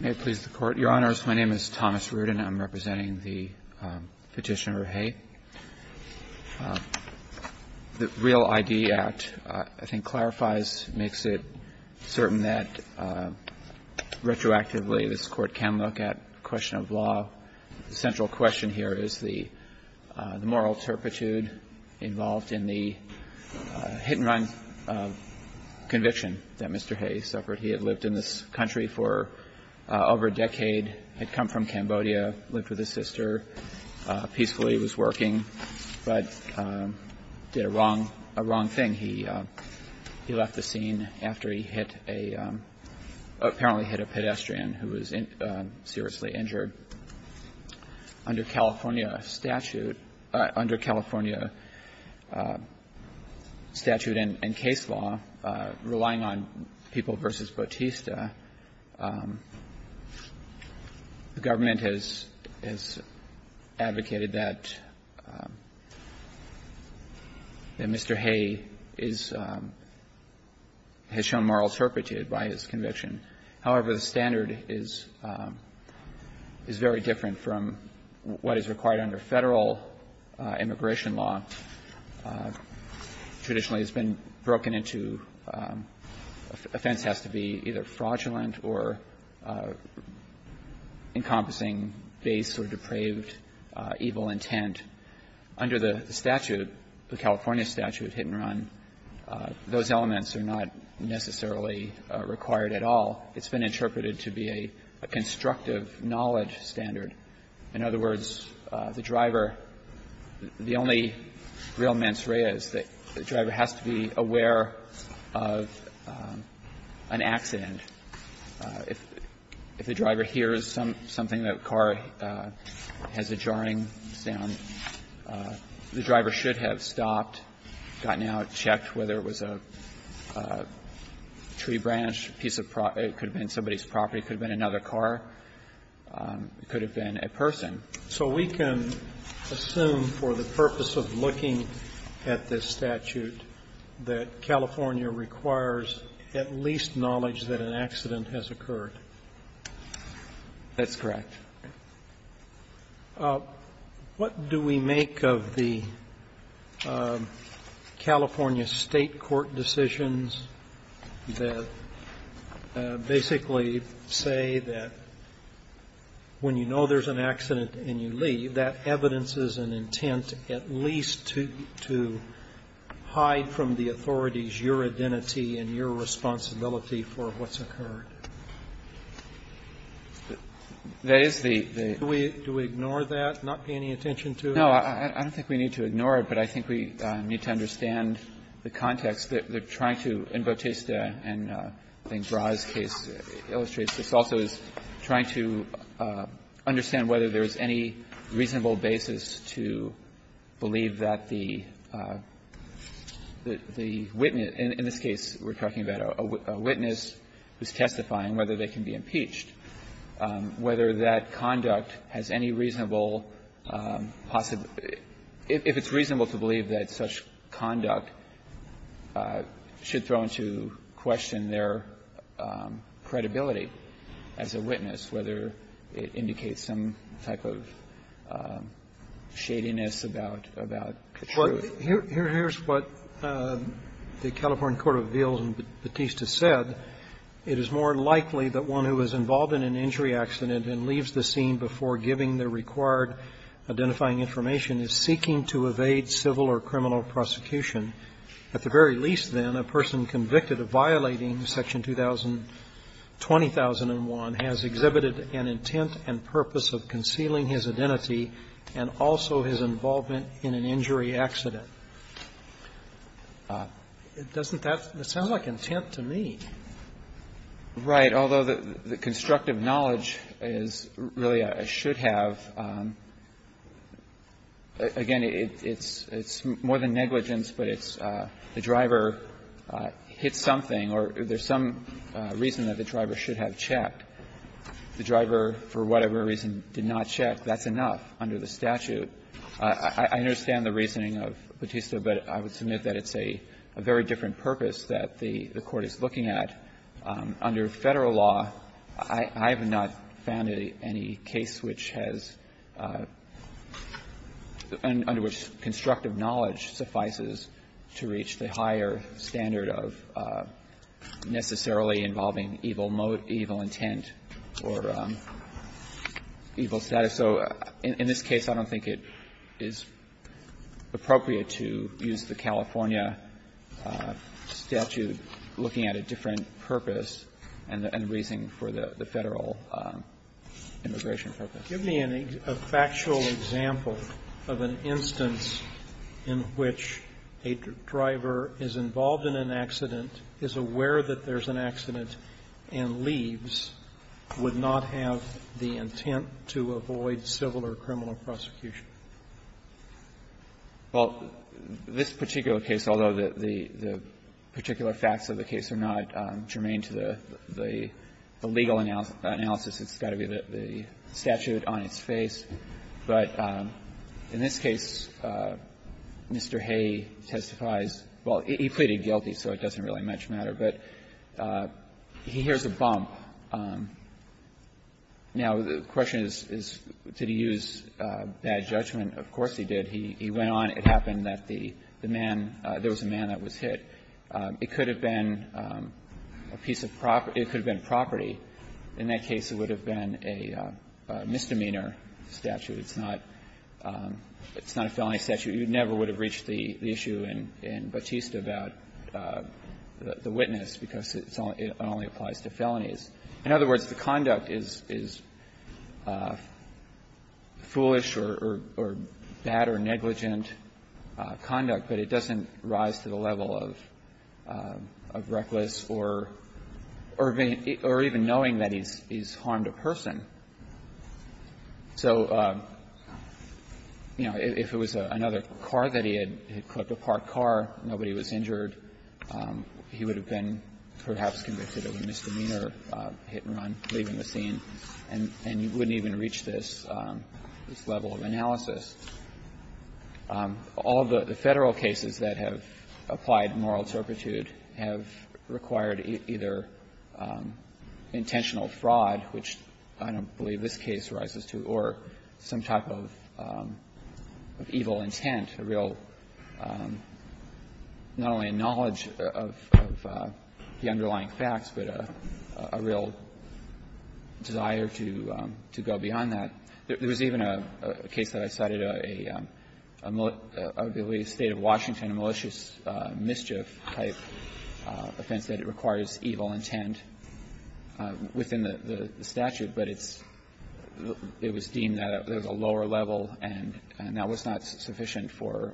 May it please the Court. Your Honors, my name is Thomas Rudin. I'm representing the Petitioner, Hay. The Real ID Act, I think, clarifies, makes it certain that retroactively this Court can look at the question of law. The central question here is the moral turpitude involved in the hit-and-run conviction that Mr. Hay suffered. He had lived in this country for over a decade, had come from Cambodia, lived with his sister, peacefully was working, but did a wrong thing. He left the scene after he hit a, apparently hit a pedestrian who was seriously injured. Under California statute, under California statute and case law, relying on People v. Bautista, the government has advocated that Mr. Hay is, has shown moral turpitude by his conviction. However, the standard is very different from what is required under Federal immigration law. Traditionally, it's been broken into, offense has to be either fraudulent or encompassing base or depraved evil intent. Under the statute, the California statute, hit-and-run, those elements are not necessarily required at all. It's been interpreted to be a constructive knowledge standard. In other words, the driver, the only real mens rea is that the driver has to be aware of an accident. If the driver hears something, a car, has a jarring sound, the driver should have stopped, gotten out, checked whether it was a tree branch, a piece of property, could have been somebody's property, could have been another car, could have been a person. So we can assume for the purpose of looking at this statute that California requires at least knowledge that an accident has occurred. That's correct. What do we make of the California State court decisions that basically say that when you know there's an accident and you leave, that evidence is an intent at least to hide from the authorities your identity and your responsibility for what's occurred? Do we ignore that, not pay any attention to it? No. I don't think we need to ignore it, but I think we need to understand the context that they're trying to, in Bautista and I think Brahe's case illustrates, this also is trying to understand whether there's any reasonable basis to believe that the witness, in this case we're talking about a witness who's testifying whether they can be impeached, whether that conduct has any reasonable possibility if it's reasonable to believe that such conduct should throw into question their credibility as a witness, whether it indicates some type of shadiness about the truth. Well, here's what the California court of appeals in Bautista said. It is more likely that one who is involved in an injury accident and leaves the scene before giving the required identifying information is seeking to evade civil or criminal prosecution. At the very least, then, a person convicted of violating section 2000 20,001 has exhibited an intent and purpose of concealing his identity and also his involvement in an injury accident. Doesn't that sound like intent to me? Right. Although the constructive knowledge is really a should-have, again, it's more than negligence, but it's the driver hit something or there's some reason that the driver should have checked. The driver, for whatever reason, did not check. That's enough under the statute. I understand the reasoning of Bautista, but I would submit that it's a very different purpose that the Court is looking at. Under Federal law, I have not found any case which has under which constructive knowledge suffices to reach the higher standard of necessarily involving evil intent or evil status. So in this case, I don't think it is appropriate to use the California statute looking at a different purpose and raising for the Federal immigration purpose. Give me a factual example of an instance in which a driver is involved in an accident, is aware that there's an accident, and leaves, would not have the intent to avoid civil or criminal prosecution. Well, this particular case, although the particular facts of the case are not germane to the legal analysis, it's got to be the statute on its face. But in this case, Mr. Hay testifies – well, he pleaded guilty, so it doesn't really much matter, but he hears a bump. Now, the question is, did he use bad judgment? Of course he did. He went on. It happened that the man – there was a man that was hit. It could have been a piece of property – it could have been property. In that case, it would have been a misdemeanor statute. It's not – it's not a felony statute. You never would have reached the issue in Batista about the witness, because it only applies to felonies. In other words, the conduct is foolish or bad or negligent conduct, but it doesn't rise to the level of reckless or even knowing that he's harmed a person. So, you know, if it was another car that he had, he had clipped a parked car, nobody was injured, he would have been perhaps convicted of a misdemeanor, hit and run, leaving the scene, and you wouldn't even reach this level of analysis. All the Federal cases that have applied moral turpitude have required either intentional fraud, which I don't believe this case rises to, or some type of evil intent, a real not only a knowledge of the underlying facts, but a real desire to go beyond that. There was even a case that I cited, a state of Washington, a malicious mischief-type offense, that it requires evil intent within the statute, but it's – it was deemed that there's a lower level and that was not sufficient for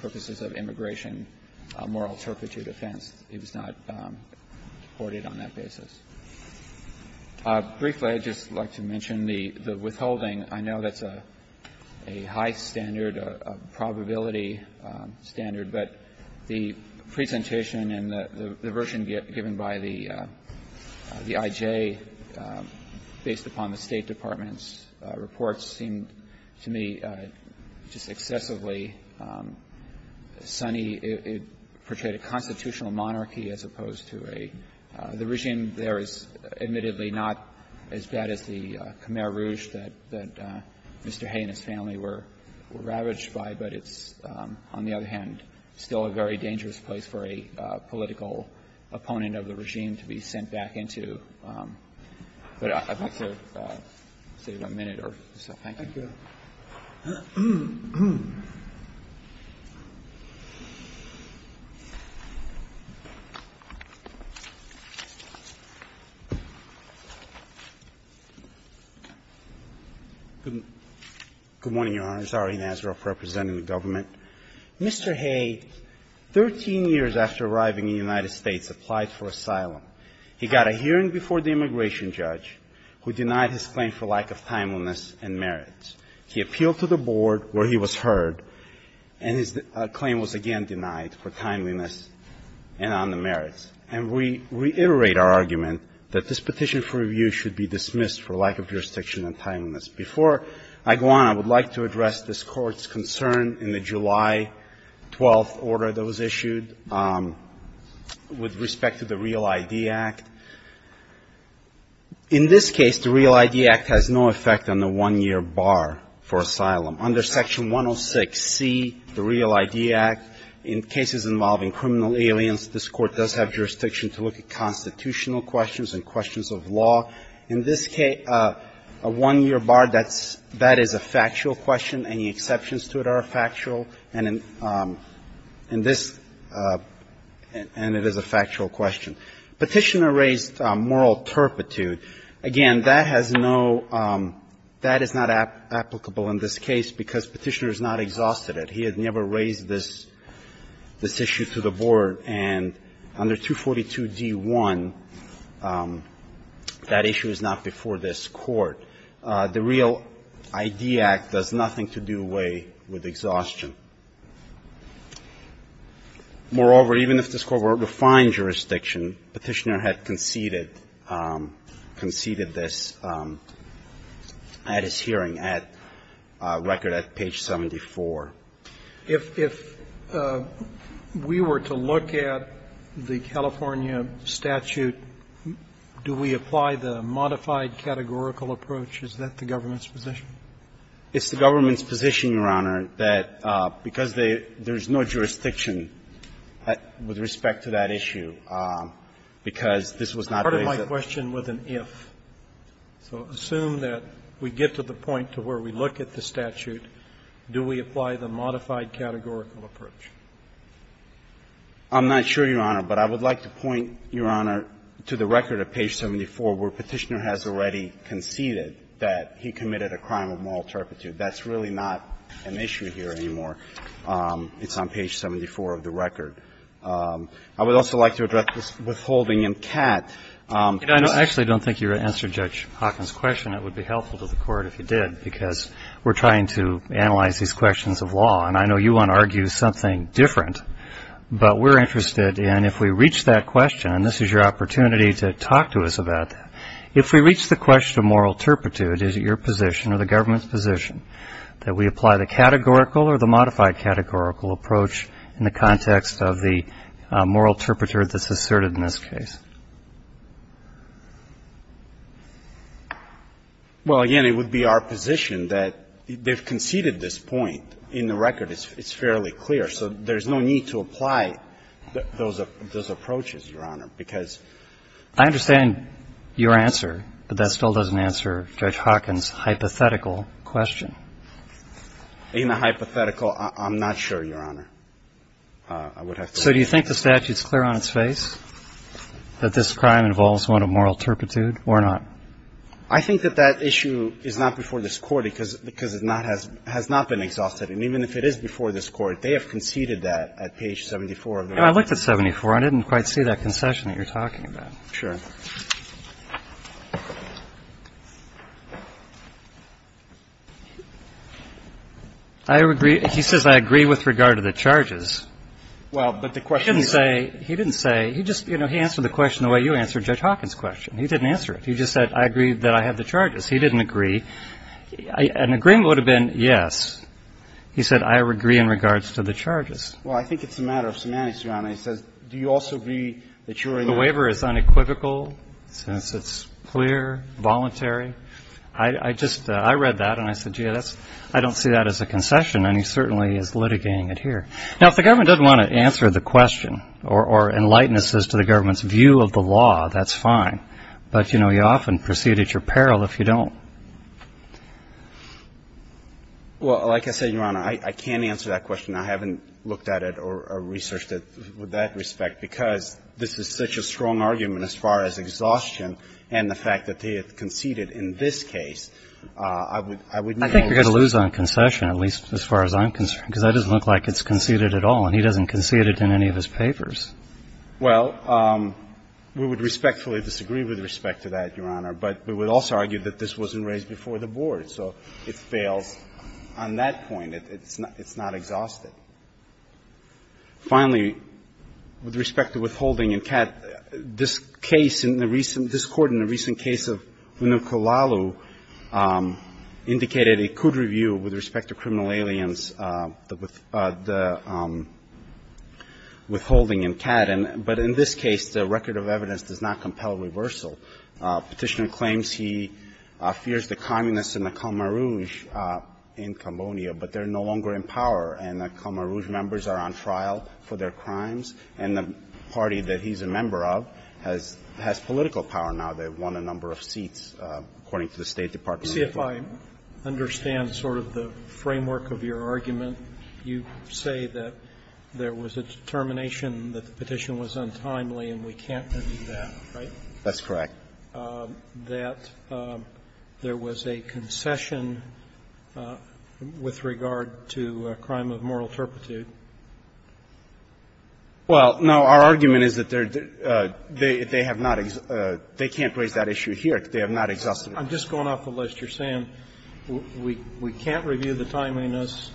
purposes of immigration, a moral turpitude offense. It was not reported on that basis. Briefly, I'd just like to mention the withholding. I know that's a high standard, a probability standard, but the presentation and the version given by the I.J. based upon the State Department's reports seemed to me just excessively sunny. It portrayed a constitutional monarchy as opposed to a – the regime there is admittedly not as bad as the Khmer Rouge that Mr. Hay and his family were ravaged by, but it's on the other hand still a very dangerous place for a political opponent of the regime to be sent back into. But I'd like to save a minute or so. Thank you. Mr. Hay, 13 years after arriving in the United States, applied for asylum. He got a hearing before the immigration judge, who denied his claim for lack of timeliness and merit. He appealed to the board where he was heard and his claim was again denied for timeliness and on the merits. And we reiterate our argument that this petition for review should be dismissed for lack of jurisdiction and timeliness. Before I go on, I would like to address this Court's concern in the July 12th order that was issued with respect to the Real ID Act. In this case, the Real ID Act has no effect on the one-year bar for asylum. Under Section 106C, the Real ID Act, in cases involving criminal aliens, this Court does have jurisdiction to look at constitutional questions and questions of law. In this case, a one-year bar, that's – that is a factual question. Any exceptions to it are factual. And in this – and it is a factual question. Petitioner raised moral turpitude. Again, that has no – that is not applicable in this case, because Petitioner has not exhausted it. He has never raised this – this issue to the board. And under 242d1, that issue is not before this Court. The Real ID Act does nothing to do away with exhaustion. Moreover, even if this Court were to find jurisdiction, Petitioner had conceded – conceded this at his hearing, at record at page 74. Roberts. If – if we were to look at the California statute, do we apply the modified categorical approach? Is that the government's position? It's the government's position, Your Honor, that because they – there's no jurisdiction with respect to that issue, because this was not raised at the time. I have a question with an if. So assume that we get to the point to where we look at the statute, do we apply the modified categorical approach? I'm not sure, Your Honor, but I would like to point, Your Honor, to the record at page 74 where Petitioner has already conceded that he committed a crime of moral turpitude. That's really not an issue here anymore. It's on page 74 of the record. I would also like to address this withholding in cat. I actually don't think you answered Judge Hawkins' question. It would be helpful to the Court if you did, because we're trying to analyze these questions of law. And I know you want to argue something different, but we're interested in if we reach that question – and this is your opportunity to talk to us about that – if we reach the question of moral turpitude, is it your position or the government's position that we apply the categorical or the modified categorical approach in the context of the moral turpitude that's asserted in this case? Well, again, it would be our position that they've conceded this point in the record. It's fairly clear. So there's no need to apply those approaches, Your Honor, because I understand your answer, but that still doesn't answer Judge Hawkins' hypothetical question. In the hypothetical, I'm not sure, Your Honor. I would have to look at it. So do you think the statute's clear on its face that this crime involves one of moral turpitude or not? I think that that issue is not before this Court, because it has not been exhausted. And even if it is before this Court, they have conceded that at page 74 of the record. I looked at 74. I didn't quite see that concession that you're talking about. Sure. I agree he says I agree with regard to the charges. Well, but the question is he didn't say he didn't say he just, you know, he answered the question the way you answered Judge Hawkins' question. He didn't answer it. He just said I agree that I have the charges. He didn't agree. An agreement would have been yes. He said I agree in regards to the charges. Well, I think it's a matter of semantics, Your Honor. He says do you also agree that you're in the The waiver is unequivocal since it's clear, voluntary. I just I read that, and I said, gee, I don't see that as a concession, and he certainly is litigating it here. Now, if the government doesn't want to answer the question or enlighten us as to the government's view of the law, that's fine. But, you know, you often proceed at your peril if you don't. Well, like I said, Your Honor, I can't answer that question. I haven't looked at it or researched it with that respect because this is such a strong argument as far as exhaustion and the fact that he had conceded in this case. I would not I think you're going to lose on concession, at least as far as I'm concerned, because that doesn't look like it's conceded at all, and he doesn't concede it in any of his papers. Well, we would respectfully disagree with respect to that, Your Honor. But we would also argue that this wasn't raised before the board. So it fails on that point. It's not exhausted. Finally, with respect to withholding in CAD, this case in the recent this Court in the recent case of Unukulalu indicated it could review with respect to criminal aliens the withholding in CAD, but in this case the record of evidence does not compel reversal. Petitioner claims he fears the communists in the Khmer Rouge in Cambodia, but they're no longer in power and the Khmer Rouge members are on trial for their crimes, and the party that he's a member of has political power now. They've won a number of seats, according to the State Department. See, if I understand sort of the framework of your argument, you say that there was a determination that the petition was untimely and we can't undo that, right? That's correct. That there was a concession with regard to a crime of moral turpitude? Well, no. Our argument is that they're they have not they can't raise that issue here. They have not exhausted it. I'm just going off the list. You're saying we can't review the timeliness.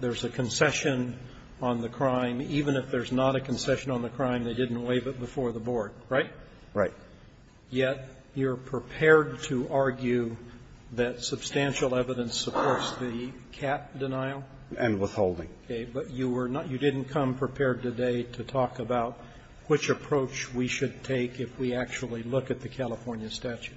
There's a concession on the crime. Even if there's not a concession on the crime, they didn't waive it before the board, right? Right. Yet you're prepared to argue that substantial evidence supports the cat denial? And withholding. Okay. But you were not you didn't come prepared today to talk about which approach we should take if we actually look at the California statute?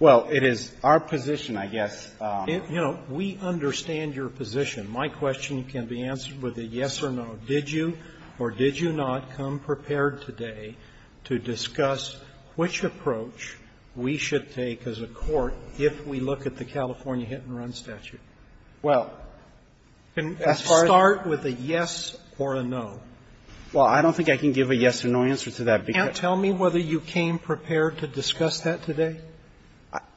Well, it is our position, I guess. You know, we understand your position. My question can be answered with a yes or no. Did you or did you not come prepared today to discuss which approach we should take as a court if we look at the California hit-and-run statute? Well, as far as You can start with a yes or a no. Well, I don't think I can give a yes or no answer to that because Can't tell me whether you came prepared to discuss that today?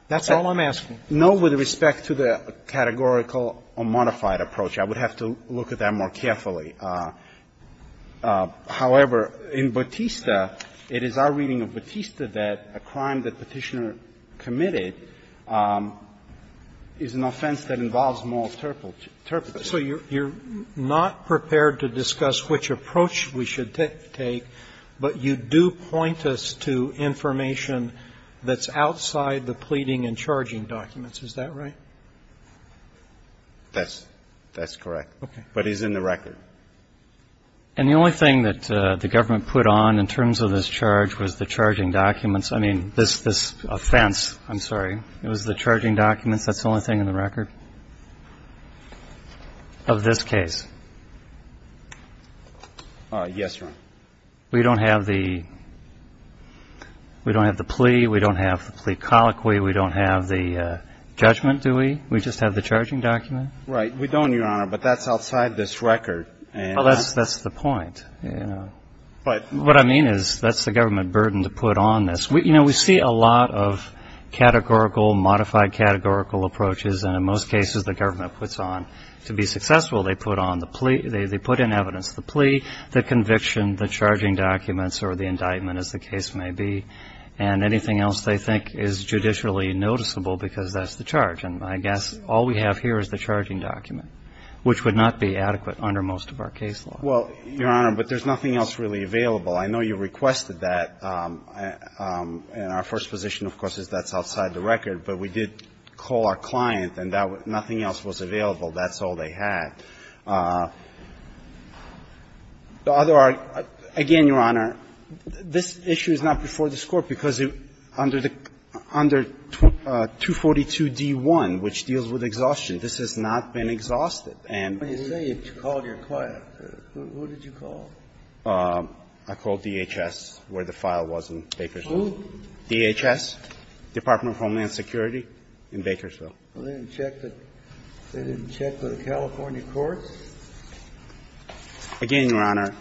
That's all I'm asking. No, with respect to the categorical or modified approach. I would have to look at that more carefully. However, in Bautista, it is our reading of Bautista that a crime that Petitioner committed is an offense that involves moral turpitude. So you're not prepared to discuss which approach we should take, but you do point us to information that's outside the pleading and charging documents. Is that right? That's correct. Okay. But it's in the record. And the only thing that the government put on in terms of this charge was the charging documents. I mean, this offense. I'm sorry. It was the charging documents. That's the only thing in the record of this case. Yes, Your Honor. We don't have the plea. We don't have the plea colloquy. We don't have the judgment, do we? We just have the charging document. Right. We don't, Your Honor. But that's outside this record. Well, that's the point. What I mean is that's the government burden to put on this. You know, we see a lot of categorical, modified categorical approaches. And in most cases, the government puts on to be successful, they put in evidence the plea, the conviction, the charging documents, or the indictment, as the case may be, and anything else they think is judicially noticeable because that's the charge. And I guess all we have here is the charging document. Which would not be adequate under most of our case law. Well, Your Honor, but there's nothing else really available. I know you requested that. And our first position, of course, is that's outside the record. But we did call our client, and nothing else was available. That's all they had. The other, again, Your Honor, this issue is not before this Court because under 242d-1, which deals with exhaustion, this has not been exhausted. And we need to call your client. Who did you call? I called DHS, where the file was in Bakersfield. Who? DHS, Department of Homeland Security in Bakersfield. Well, they didn't check the California courts? Again, Your Honor,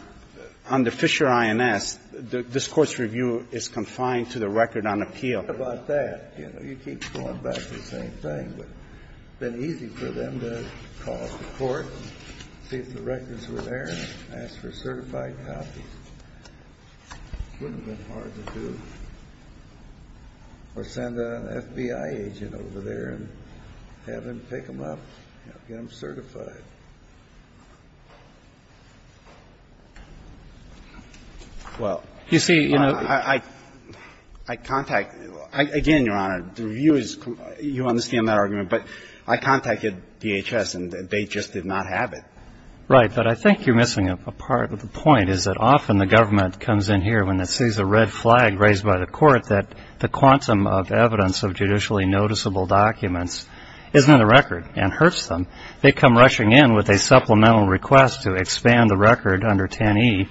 under Fisher I.N.S., this Court's review is confined to the record on appeal. What about that? You know, you keep going back to the same thing. But it's been easy for them to call the Court, see if the records were there, and ask for certified copies. Wouldn't have been hard to do. Or send an FBI agent over there and have him pick them up, have them certified. Well, you see, you know, I contact, again, Your Honor, the review is, you understand that argument, but I contacted DHS and they just did not have it. Right. But I think you're missing a part of the point is that often the government comes in here when it sees a red flag raised by the Court that the quantum of evidence of judicially noticeable documents isn't in the record and hurts them. They come rushing in with a supplemental request to expand the record under 10E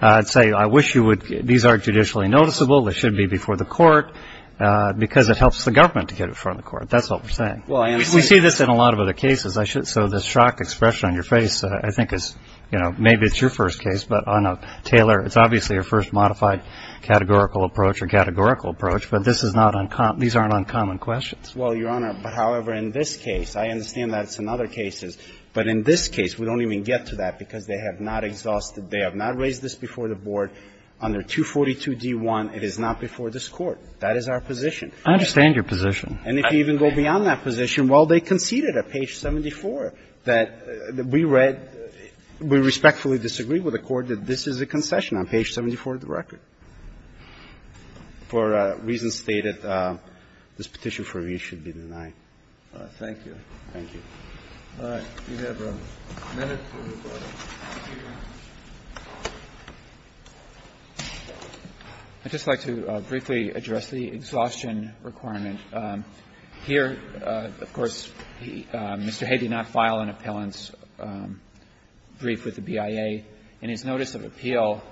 and say, I wish you would, these aren't judicially noticeable, they should be before the Court, because it helps the government to get it before the Court. That's what we're saying. Well, I understand. We see this in a lot of other cases. I should, so the shock expression on your face, I think is, you know, maybe it's your first case, but on a Taylor, it's obviously your first modified categorical approach or categorical approach. But this is not uncommon. These aren't uncommon questions. Well, Your Honor, but however, in this case, I understand that it's in other cases. But in this case, we don't even get to that because they have not exhausted, they have not raised this before the Board under 242d1. It is not before this Court. That is our position. I understand your position. And if you even go beyond that position, well, they conceded at page 74 that we read we respectfully disagree with the Court that this is a concession on page 74 of the record. For reasons stated, this petition for review should be denied. Thank you. Thank you. All right. We have a minute to record. I'd just like to briefly address the exhaustion requirement. Here, of course, Mr. Hay did not file an appellant's brief with the BIA. In his notice of appeal,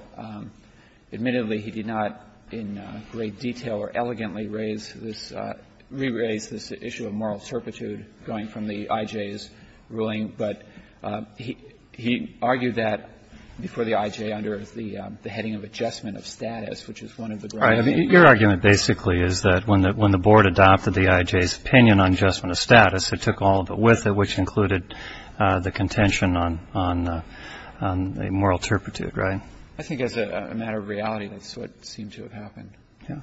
admittedly, he did not in great detail or elegantly raise this issue of moral certitude going from the IJ's ruling. But he argued that before the IJ under the heading of adjustment of status, which is one of the broad themes. Your argument basically is that when the Board adopted the IJ's opinion on adjustment of status, it took all of it with it, which included the contention on moral certitude, right? I think as a matter of reality, that's what seemed to have happened.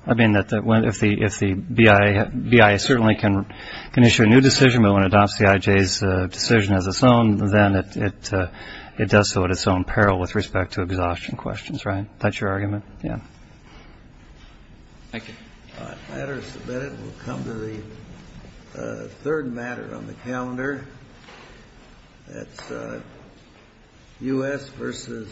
I mean, if the BIA certainly can issue a new decision, but when it adopts the IJ's decision as its own, then it does so at its own peril with respect to exhaustion questions, right? That's your argument? Yeah. Thank you. Matters submitted will come to the third matter on the calendar. That's U.S. versus Correa-Rodriguez.